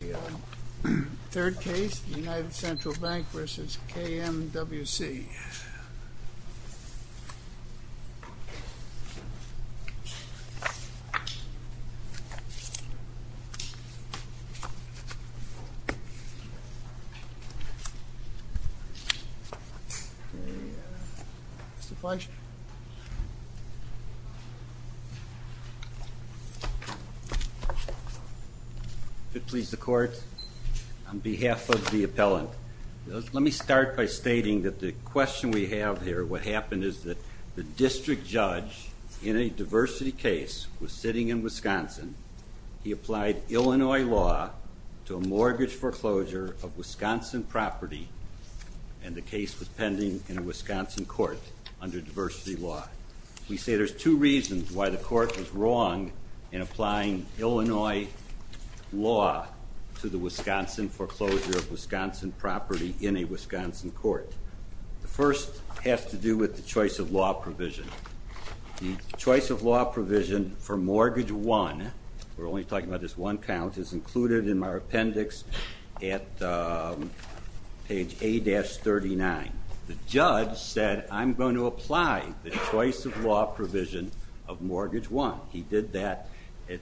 The third case, United Central Bank v. KMWC. Mr. Fleischer. If it pleases the court, on behalf of the appellant, let me start by stating that the question we have here, what happened is that the district judge in a diversity case was sitting in Wisconsin. He applied Illinois law to a mortgage foreclosure of Wisconsin property and the case was pending in a Wisconsin court under diversity law. We say there's two reasons why the court was wrong in applying Illinois law to the Wisconsin foreclosure of Wisconsin property in a Wisconsin court. The first has to do with the choice of law provision. The choice of law provision for mortgage one, we're only talking about this one count, is included in our appendix at page A-39. The judge said, I'm going to apply the choice of law provision of mortgage one. He did that at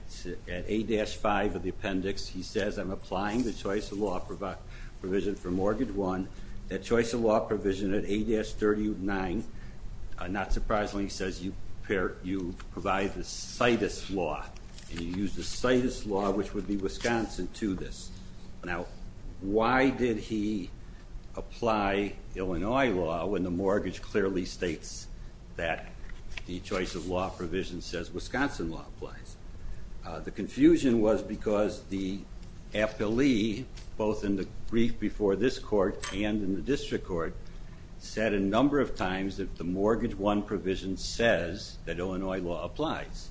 A-5 of the appendix. He says, I'm applying the choice of law provision for mortgage one. That choice of law provision at A-39, not surprisingly, says you provide the CITUS law. You use the CITUS law, which would be Wisconsin, to this. Now, why did he apply Illinois law when the mortgage clearly states that the choice of law provision says Wisconsin law applies? The confusion was because the appellee, both in the brief before this court and in the district court, said a number of times that the mortgage one provision says that Illinois law applies.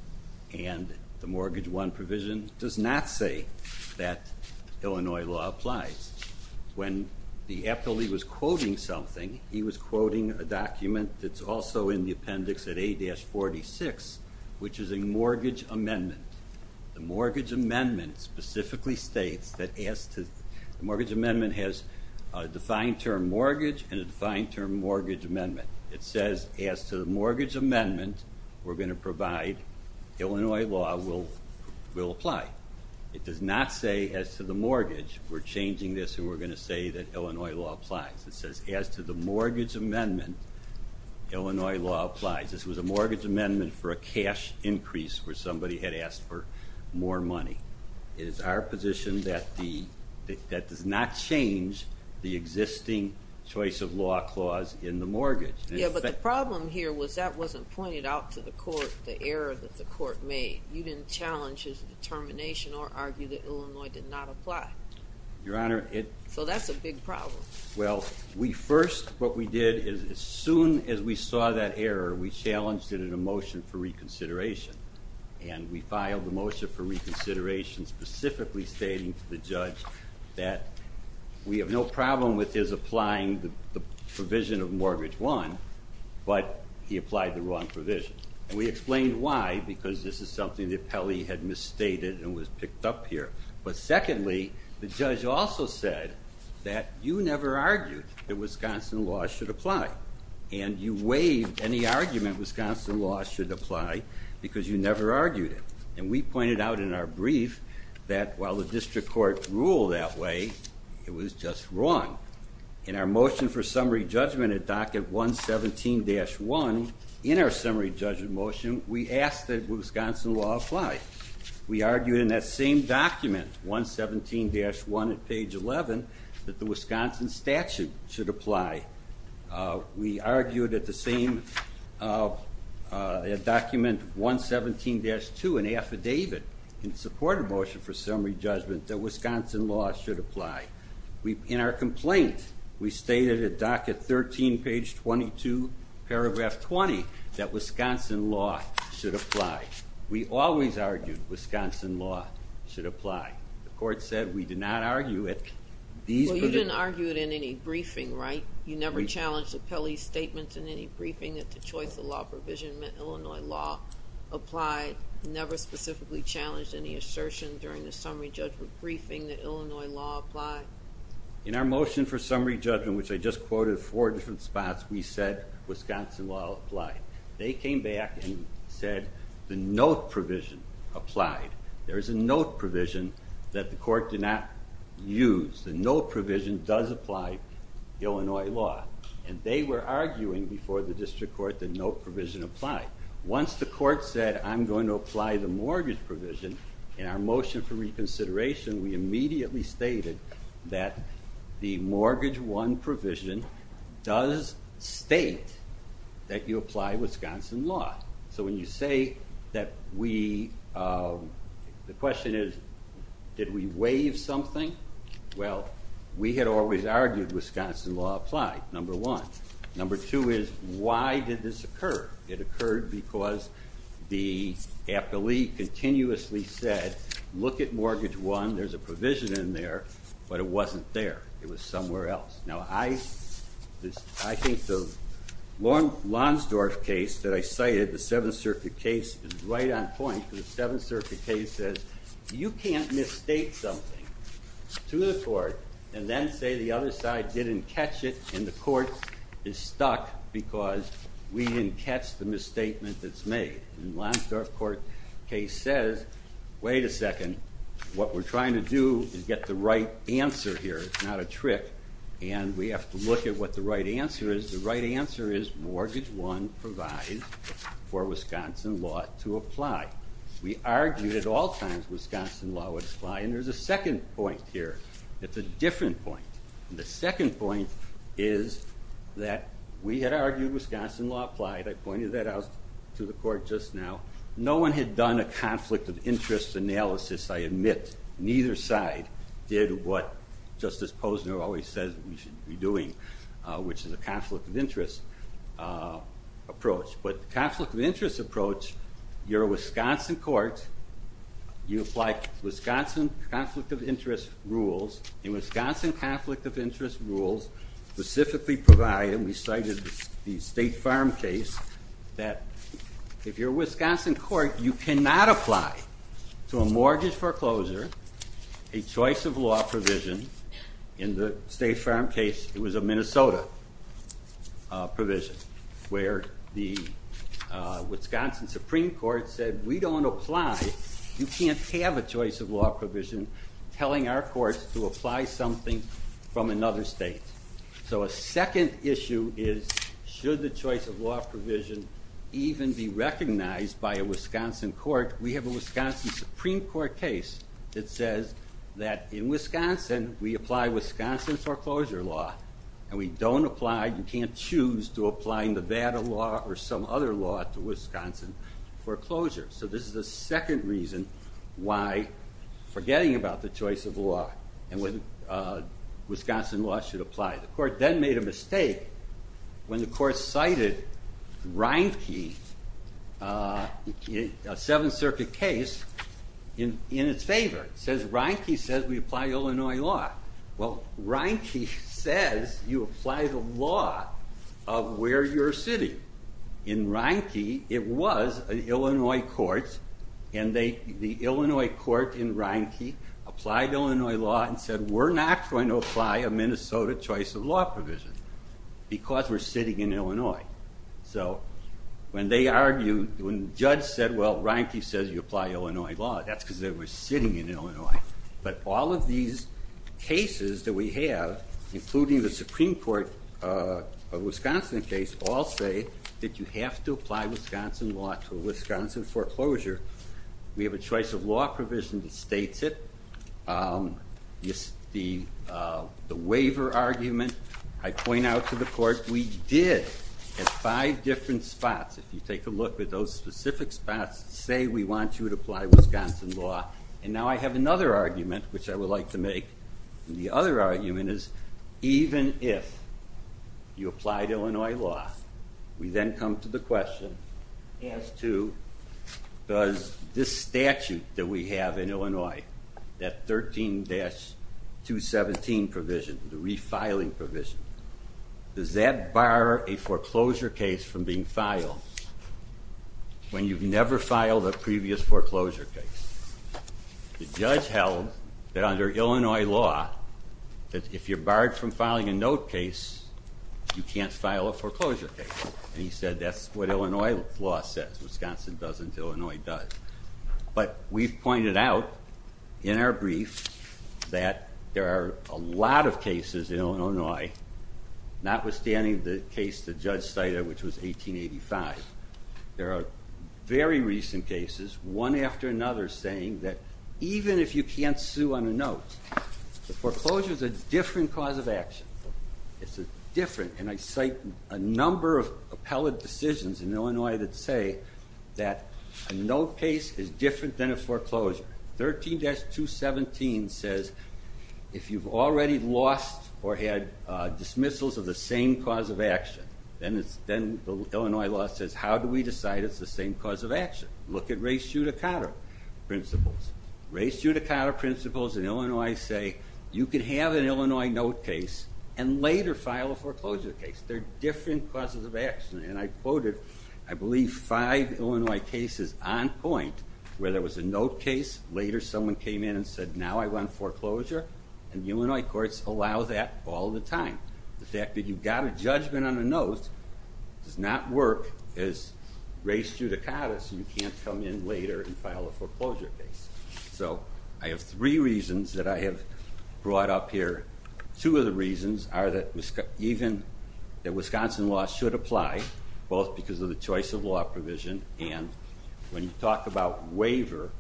And the mortgage one provision does not say that Illinois law applies. When the appellee was quoting something, he was quoting a document that's also in the appendix at A-46, which is a mortgage amendment. The mortgage amendment specifically states that the mortgage amendment has a defined term mortgage and a defined term mortgage amendment. It says, as to the mortgage amendment, we're going to provide Illinois law will apply. It does not say, as to the mortgage, we're changing this and we're going to say that Illinois law applies. It says, as to the mortgage amendment, Illinois law applies. This was a mortgage amendment for a cash increase where somebody had asked for more money. It is our position that that does not change the existing choice of law clause in the mortgage. Yeah, but the problem here was that wasn't pointed out to the court, the error that the court made. You didn't challenge his determination or argue that Illinois did not apply. Your Honor, it- So that's a big problem. Well, we first, what we did is as soon as we saw that error, we challenged it in a motion for reconsideration. And we filed a motion for reconsideration specifically stating to the judge that we have no problem with his applying the provision of mortgage one, but he applied the wrong provision. And we explained why, because this is something that Pelly had misstated and was picked up here. But secondly, the judge also said that you never argued that Wisconsin law should apply. And you waived any argument Wisconsin law should apply because you never argued it. And we pointed out in our brief that while the district court ruled that way, it was just wrong. In our motion for summary judgment at docket 117-1, in our summary judgment motion, we asked that Wisconsin law apply. We argued in that same document, 117-1 at page 11, that the Wisconsin statute should apply. We argued at the same document, 117-2, an affidavit in support of motion for summary judgment that Wisconsin law should apply. In our complaint, we stated at docket 13, page 22, paragraph 20, that Wisconsin law should apply. We always argued Wisconsin law should apply. The court said we did not argue it. Well, you didn't argue it in any briefing, right? You never challenged Pelly's statement in any briefing that the choice of law provision meant Illinois law applied. You never specifically challenged any assertion during the summary judgment briefing that Illinois law applied. In our motion for summary judgment, which I just quoted four different spots, we said Wisconsin law applied. They came back and said the note provision applied. There is a note provision that the court did not use. The note provision does apply Illinois law. And they were arguing before the district court the note provision applied. Once the court said, I'm going to apply the mortgage provision, in our motion for reconsideration, we immediately stated that the mortgage 1 provision does state that you apply Wisconsin law. So when you say that we, the question is, did we waive something? Well, we had always argued Wisconsin law applied, number one. Number two is, why did this occur? It occurred because the appellee continuously said, look at mortgage 1. There's a provision in there, but it wasn't there. It was somewhere else. Now, I think the Lonsdorf case that I cited, the Seventh Circuit case, is right on point. The Seventh Circuit case says you can't mistake something to the court and then say the other side didn't catch it and the court is stuck because we didn't catch the misstatement that's made. And the Lonsdorf case says, wait a second. What we're trying to do is get the right answer here. It's not a trick, and we have to look at what the right answer is. The right answer is mortgage 1 provides for Wisconsin law to apply. We argued at all times Wisconsin law would apply, and there's a second point here. It's a different point. The second point is that we had argued Wisconsin law applied. I pointed that out to the court just now. No one had done a conflict of interest analysis, I admit. Neither side did what Justice Posner always says we should be doing, which is a conflict of interest approach. But the conflict of interest approach, you're a Wisconsin court. You apply Wisconsin conflict of interest rules, and Wisconsin conflict of interest rules specifically provide, and we cited the State Farm case, that if you're a Wisconsin court, you cannot apply to a mortgage foreclosure a choice of law provision. In the State Farm case, it was a Minnesota provision, where the Wisconsin Supreme Court said we don't apply. You can't have a choice of law provision telling our courts to apply something from another state. So a second issue is should the choice of law provision even be recognized by a Wisconsin court? We have a Wisconsin Supreme Court case that says that in Wisconsin, we apply Wisconsin foreclosure law, and we don't apply, you can't choose to apply Nevada law or some other law to Wisconsin foreclosure. So this is the second reason why forgetting about the choice of law, and Wisconsin law should apply. The court then made a mistake when the court cited Reinke, a Seventh Circuit case, in its favor. It says Reinke says we apply Illinois law. Well, Reinke says you apply the law of where you're sitting. In Reinke, it was an Illinois court, and the Illinois court in Reinke applied Illinois law and said we're not going to apply a Minnesota choice of law provision because we're sitting in Illinois. So when they argued, when the judge said, well, Reinke says you apply Illinois law, that's because they were sitting in Illinois. But all of these cases that we have, including the Supreme Court Wisconsin case, all say that you have to apply Wisconsin law to Wisconsin foreclosure. We have a choice of law provision that states it. The waiver argument I point out to the court we did at five different spots. If you take a look at those specific spots, say we want you to apply Wisconsin law, and now I have another argument which I would like to make, and the other argument is even if you applied Illinois law, we then come to the question as to does this statute that we have in Illinois, that 13-217 provision, the refiling provision, does that bar a foreclosure case from being filed when you've never filed a previous foreclosure case? The judge held that under Illinois law, that if you're barred from filing a note case, you can't file a foreclosure case. And he said that's what Illinois law says. Wisconsin doesn't. Illinois does. But we've pointed out in our brief that there are a lot of cases in Illinois, notwithstanding the case the judge cited, which was 1885. There are very recent cases, one after another, saying that even if you can't sue on a note, the foreclosure is a different cause of action. It's different, and I cite a number of appellate decisions in Illinois that say that a note case is different than a foreclosure. 13-217 says if you've already lost or had dismissals of the same cause of action, then Illinois law says how do we decide it's the same cause of action? Look at Ray Schutte-Cotter principles. Ray Schutte-Cotter principles in Illinois say you can have an Illinois note case and later file a foreclosure case. They're different causes of action. And I quoted, I believe, five Illinois cases on point where there was a note case, later someone came in and said, now I want foreclosure, and Illinois courts allow that all the time. The fact that you've got a judgment on a note does not work as Ray Schutte-Cotter so you can't come in later and file a foreclosure case. So I have three reasons that I have brought up here. Two of the reasons are that Wisconsin law should apply, both because of the choice of law provision and when you talk about waiver,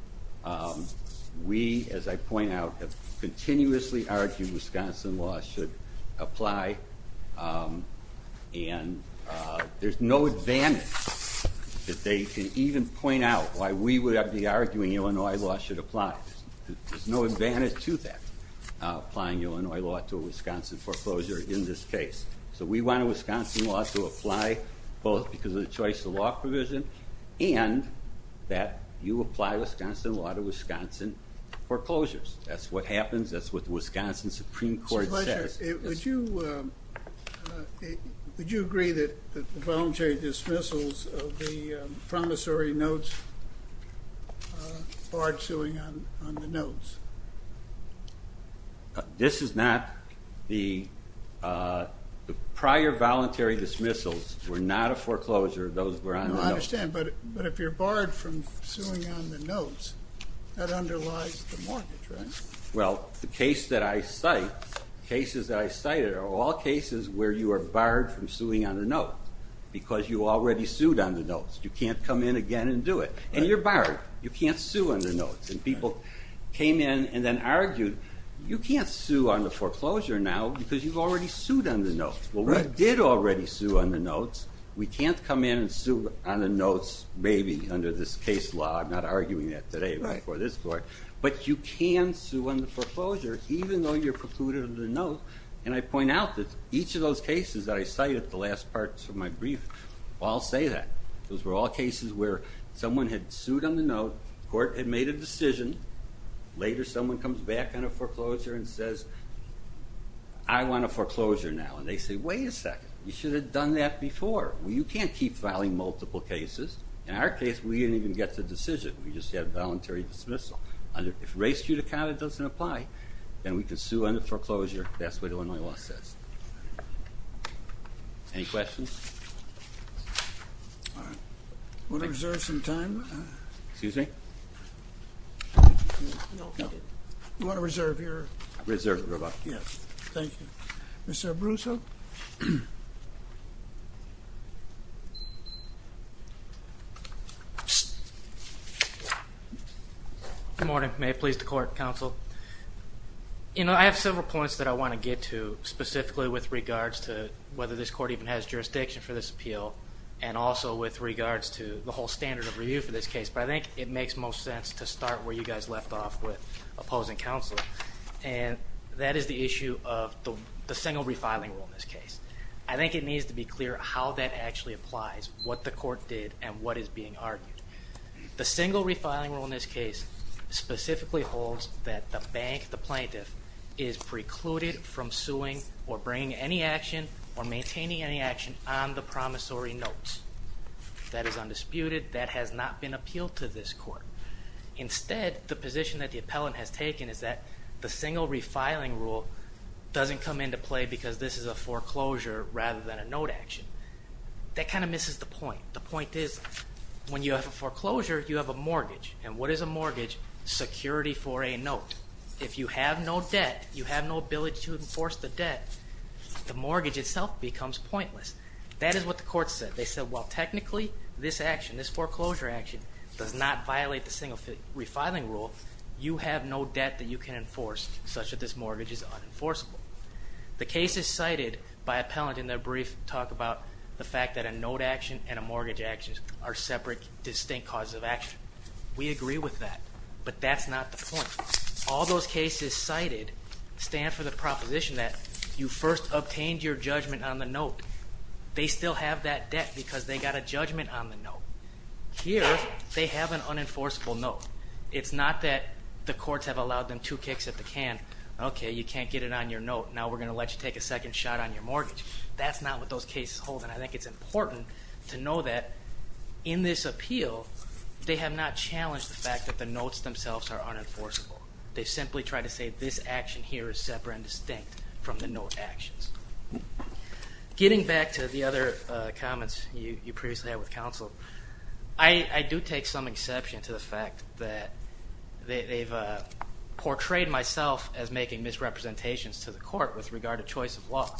we, as I point out, have continuously argued Wisconsin law should apply. And there's no advantage that they can even point out why we would be arguing Illinois law should apply. There's no advantage to that, applying Illinois law to a Wisconsin foreclosure in this case. So we want a Wisconsin law to apply both because of the choice of law provision and that you apply Wisconsin law to Wisconsin foreclosures. That's what happens. That's what the Wisconsin Supreme Court says. Would you agree that the voluntary dismissals of the promissory notes barred suing on the notes? This is not the prior voluntary dismissals were not a foreclosure, those were on the notes. I understand, but if you're barred from suing on the notes, that underlies the mortgage, right? Well, the cases that I cite are all cases where you are barred from suing on the notes because you already sued on the notes. You can't come in again and do it. And you're barred. You can't sue on the notes. And people came in and then argued, you can't sue on the foreclosure now because you've already sued on the notes. Well, we did already sue on the notes. We can't come in and sue on the notes maybe under this case law. I'm not arguing that today before this court. But you can sue on the foreclosure even though you're precluded on the note. And I point out that each of those cases that I cite at the last parts of my brief, I'll say that. Those were all cases where someone had sued on the note, the court had made a decision, later someone comes back on a foreclosure and says, I want a foreclosure now. And they say, wait a second, you should have done that before. You can't keep filing multiple cases. In our case, we didn't even get the decision. We just had voluntary dismissal. If race judicata doesn't apply, then we can sue on the foreclosure. That's what Illinois law says. Any questions? All right. Want to reserve some time? Excuse me? No. You want to reserve your? Reserve your about? Yes. Thank you. Mr. Abruso? Good morning. May it please the court, counsel. I have several points that I want to get to specifically with regards to whether this court even has jurisdiction for this appeal and also with regards to the whole standard of review for this case. But I think it makes most sense to start where you guys left off with opposing counsel. And that is the issue of the single refiling rule in this case. I think it needs to be clear how that actually applies, what the court did, and what is being argued. The single refiling rule in this case specifically holds that the bank, the plaintiff, is precluded from suing or bringing any action or maintaining any action on the promissory notes. That is undisputed. That has not been appealed to this court. Instead, the position that the appellant has taken is that the single refiling rule doesn't come into play because this is a foreclosure rather than a note action. That kind of misses the point. The point is when you have a foreclosure, you have a mortgage. And what is a mortgage? Security for a note. If you have no debt, you have no ability to enforce the debt, the mortgage itself becomes pointless. That is what the court said. They said, well, technically, this action, this foreclosure action, does not violate the single refiling rule. You have no debt that you can enforce such that this mortgage is unenforceable. The case is cited by appellant in their brief talk about the fact that a note action and a mortgage action are separate distinct causes of action. We agree with that, but that's not the point. All those cases cited stand for the proposition that you first obtained your judgment on the note. They still have that debt because they got a judgment on the note. Here, they have an unenforceable note. It's not that the courts have allowed them two kicks at the can. Okay, you can't get it on your note. Now we're going to let you take a second shot on your mortgage. That's not what those cases hold, and I think it's important to know that in this appeal, they have not challenged the fact that the notes themselves are unenforceable. They simply tried to say this action here is separate and distinct from the note actions. I do take some exception to the fact that they've portrayed myself as making misrepresentations to the court with regard to choice of law.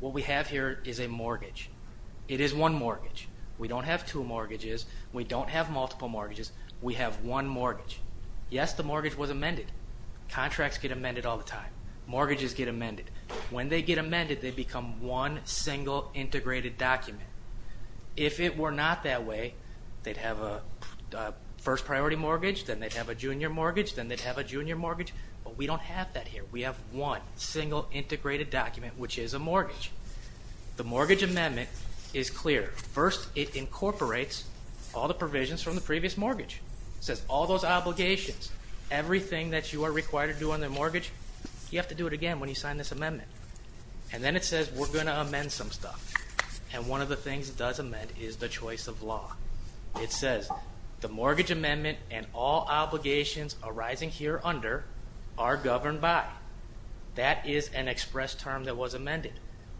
What we have here is a mortgage. It is one mortgage. We don't have two mortgages. We don't have multiple mortgages. We have one mortgage. Yes, the mortgage was amended. Contracts get amended all the time. Mortgages get amended. When they get amended, they become one single integrated document. If it were not that way, they'd have a first priority mortgage, then they'd have a junior mortgage, then they'd have a junior mortgage, but we don't have that here. We have one single integrated document, which is a mortgage. The mortgage amendment is clear. First, it incorporates all the provisions from the previous mortgage. It says all those obligations, everything that you are required to do on the mortgage, you have to do it again when you sign this amendment. And then it says we're going to amend some stuff. And one of the things it does amend is the choice of law. It says the mortgage amendment and all obligations arising here under are governed by. That is an express term that was amended.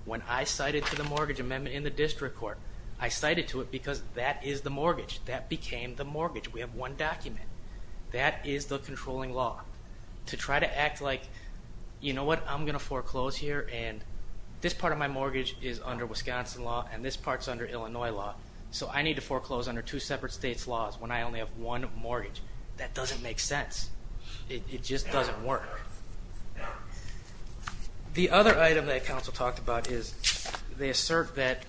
When I cited to the mortgage amendment in the district court, I cited to it because that is the mortgage. That became the mortgage. We have one document. That is the controlling law. To try to act like, you know what, I'm going to foreclose here, and this part of my mortgage is under Wisconsin law, and this part is under Illinois law. So I need to foreclose under two separate states' laws when I only have one mortgage. That doesn't make sense. It just doesn't work. The other item that counsel talked about is they assert that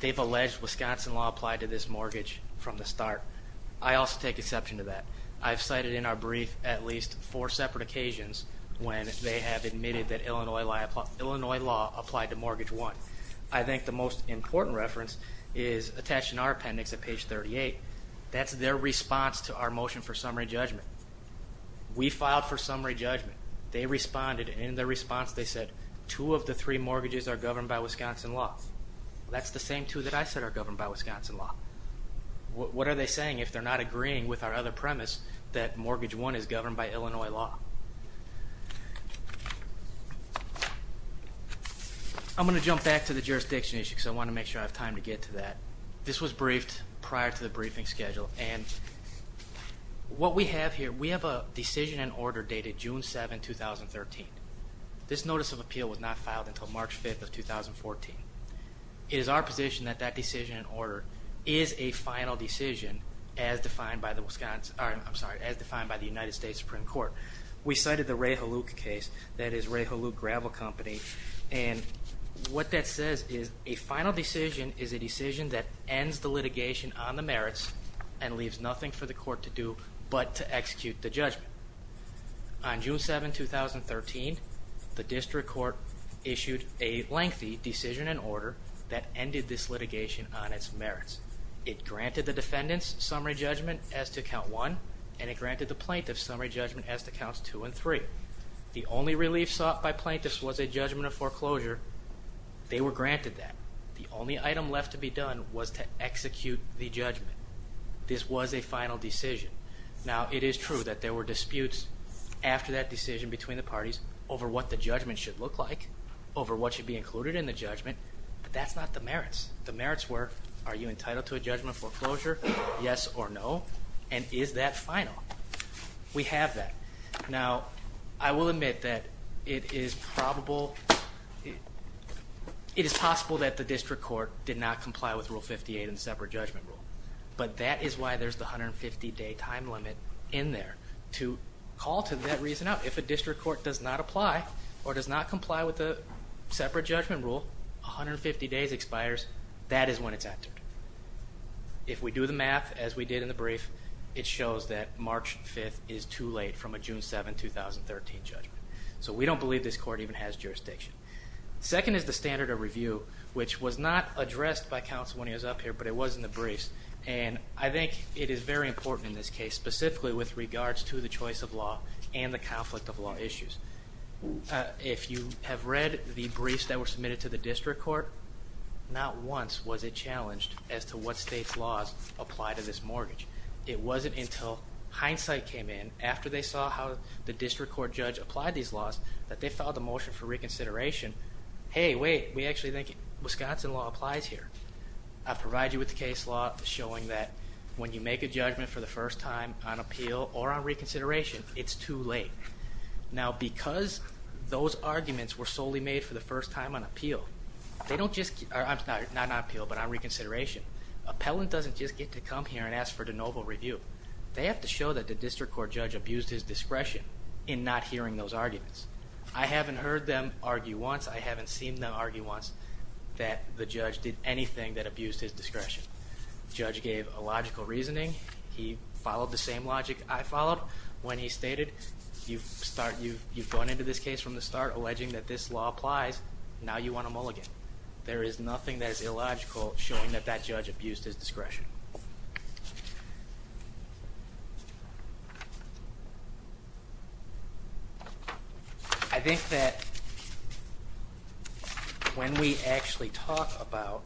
they've alleged Wisconsin law applied to this mortgage from the start. I also take exception to that. I've cited in our brief at least four separate occasions when they have admitted that Illinois law applied to mortgage one. I think the most important reference is attached in our appendix at page 38. That's their response to our motion for summary judgment. We filed for summary judgment. They responded, and in their response they said two of the three mortgages are governed by Wisconsin law. That's the same two that I said are governed by Wisconsin law. What are they saying if they're not agreeing with our other premise that mortgage one is governed by Illinois law? I'm going to jump back to the jurisdiction issue because I want to make sure I have time to get to that. This was briefed prior to the briefing schedule, and what we have here, we have a decision in order dated June 7, 2013. This notice of appeal was not filed until March 5, 2014. It is our position that that decision in order is a final decision as defined by the United States Supreme Court. We cited the Ray Haluk case, that is Ray Haluk Gravel Company, and what that says is a final decision is a decision that ends the litigation on the merits and leaves nothing for the court to do but to execute the judgment. On June 7, 2013, the district court issued a lengthy decision in order that ended this litigation on its merits. It granted the defendant's summary judgment as to count one, and it granted the plaintiff's summary judgment as to counts two and three. The only relief sought by plaintiffs was a judgment of foreclosure. They were granted that. The only item left to be done was to execute the judgment. This was a final decision. Now, it is true that there were disputes after that decision between the parties over what the judgment should look like, over what should be included in the judgment, but that's not the merits. The merits were, are you entitled to a judgment of foreclosure, yes or no, and is that final? We have that. Now, I will admit that it is probable, it is possible that the district court did not comply with Rule 58 and the separate judgment rule, but that is why there's the 150-day time limit in there to call to that reason out. If a district court does not apply or does not comply with the separate judgment rule, 150 days expires, that is when it's entered. If we do the math as we did in the brief, it shows that March 5th is too late from a June 7, 2013, judgment. So we don't believe this court even has jurisdiction. Second is the standard of review, which was not addressed by counsel when he was up here, but it was in the briefs, and I think it is very important in this case, specifically with regards to the choice of law and the conflict of law issues. If you have read the briefs that were submitted to the district court, not once was it challenged as to what state's laws apply to this mortgage. It wasn't until hindsight came in, after they saw how the district court judge applied these laws, that they filed a motion for reconsideration. Hey, wait, we actually think Wisconsin law applies here. I provide you with the case law showing that when you make a judgment for the first time on appeal or on reconsideration, it's too late. Now, because those arguments were solely made for the first time on appeal, not on appeal, but on reconsideration, appellant doesn't just get to come here and ask for de novo review. They have to show that the district court judge abused his discretion in not hearing those arguments. I haven't heard them argue once. I haven't seen them argue once that the judge did anything that abused his discretion. Judge gave a logical reasoning. He followed the same logic I followed when he stated you've gone into this case from the start, alleging that this law applies. Now you want to mulligan. There is nothing that is illogical showing that that judge abused his discretion. I think that when we actually talk about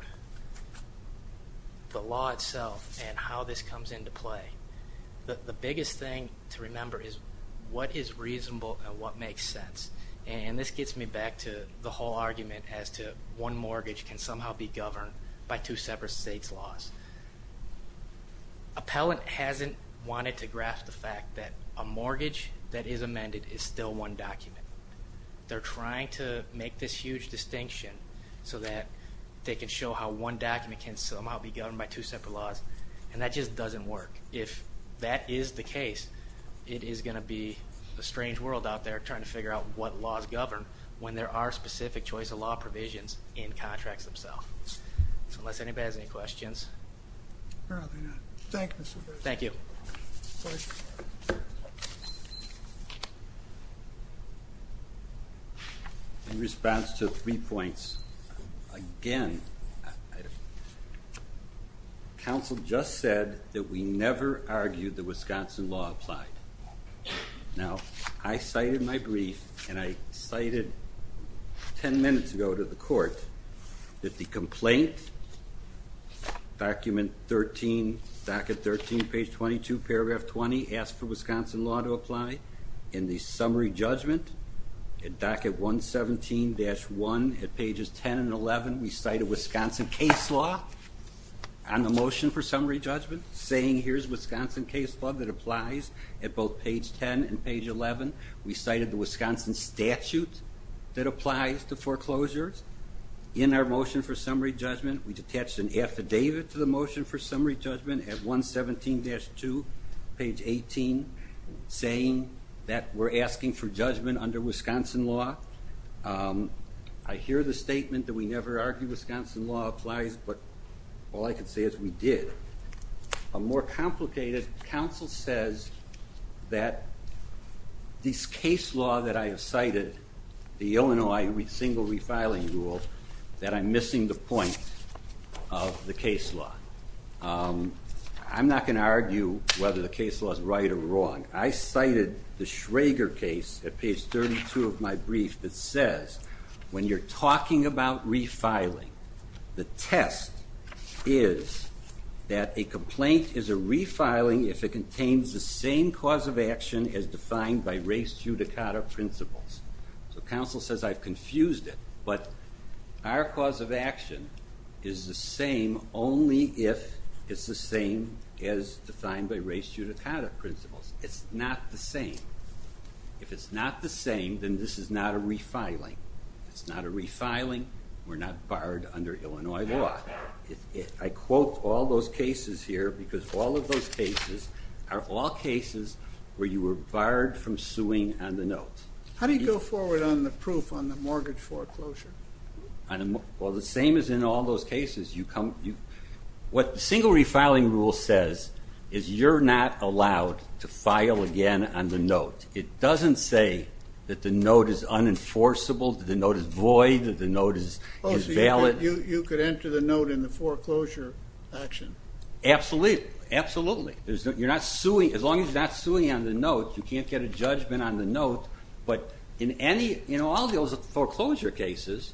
the law itself and how this comes into play, the biggest thing to remember is what is reasonable and what makes sense. And this gets me back to the whole argument as to one mortgage can somehow be governed by two separate states' laws. Appellant hasn't wanted to grasp the fact that a mortgage that is amended is still one document. They're trying to make this huge distinction so that they can show how one document can somehow be governed by two separate laws, and that just doesn't work. If that is the case, it is going to be a strange world out there trying to figure out what laws govern when there are specific choice of law provisions in contracts themselves. Unless anybody has any questions. Thank you. Thank you. In response to three points, again, counsel just said that we never argued that Wisconsin law applied. Now, I cited my brief, and I cited 10 minutes ago to the court that the complaint, document 13, docket 13, page 22, paragraph 20, asked for Wisconsin law to apply. In the summary judgment, in docket 117-1, at pages 10 and 11, we cited Wisconsin case law on the motion for summary judgment, saying here's Wisconsin case law that applies at both page 10 and page 11. We cited the Wisconsin statute that applies to foreclosures. In our motion for summary judgment, we detached an affidavit to the motion for summary judgment at 117-2, page 18, saying that we're asking for judgment under Wisconsin law. I hear the statement that we never argued Wisconsin law applies, but all I can say is we did. A more complicated counsel says that this case law that I have cited, the Illinois single refiling rule, that I'm missing the point of the case law. I'm not going to argue whether the case law is right or wrong. I cited the Schrager case at page 32 of my brief that says when you're talking about refiling, the test is that a complaint is a refiling if it contains the same cause of action as defined by race judicata principles. So counsel says I've confused it, but our cause of action is the same only if it's the same as defined by race judicata principles. It's not the same. If it's not the same, then this is not a refiling. It's not a refiling. We're not barred under Illinois law. I quote all those cases here because all of those cases are all cases where you were barred from suing on the note. How do you go forward on the proof on the mortgage foreclosure? Well, the same as in all those cases. What the single refiling rule says is you're not allowed to file again on the note. It doesn't say that the note is unenforceable, that the note is void, that the note is valid. Oh, so you could enter the note in the foreclosure action? Absolutely. As long as you're not suing on the note, you can't get a judgment on the note. But in all those foreclosure cases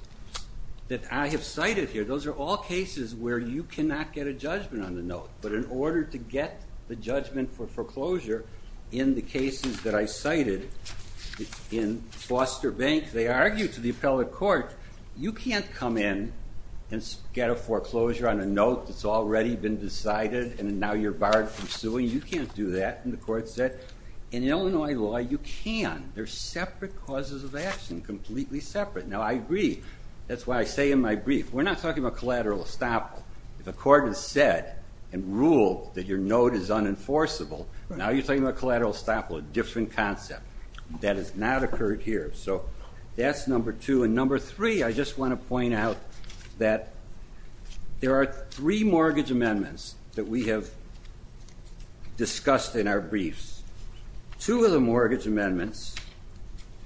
that I have cited here, those are all cases where you cannot get a judgment on the note. But in order to get the judgment for foreclosure in the cases that I cited in Foster Bank, they argue to the appellate court, you can't come in and get a foreclosure on a note that's already been decided and now you're barred from suing. You can't do that. And the court said, in Illinois law, you can. They're separate causes of action, completely separate. Now, I agree. That's why I say in my brief, we're not talking about collateral estoppel. If a court has said and ruled that your note is unenforceable, now you're talking about collateral estoppel, a different concept. That has not occurred here. So that's number two. And number three, I just want to point out that there are three mortgage amendments that we have discussed in our briefs. Two of the mortgage amendments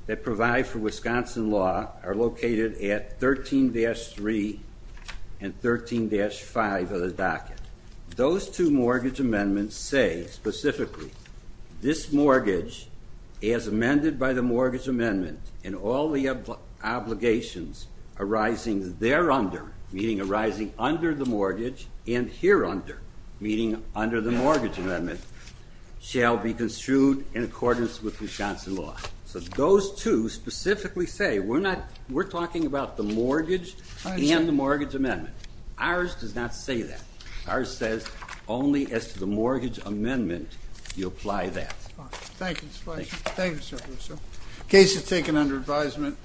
that provide for Wisconsin law are located at 13-3 and 13-5 of the docket. Those two mortgage amendments say, specifically, this mortgage, as amended by the mortgage amendment, and all the obligations arising thereunder, meaning arising under the mortgage, and hereunder, meaning under the mortgage amendment, shall be construed in accordance with Wisconsin law. So those two specifically say, we're talking about the mortgage and the mortgage amendment. Ours does not say that. Ours says, only as to the mortgage amendment, you apply that. Thank you, Mr. Fleishman. Thank you, Secretary. Case is taken under advisement.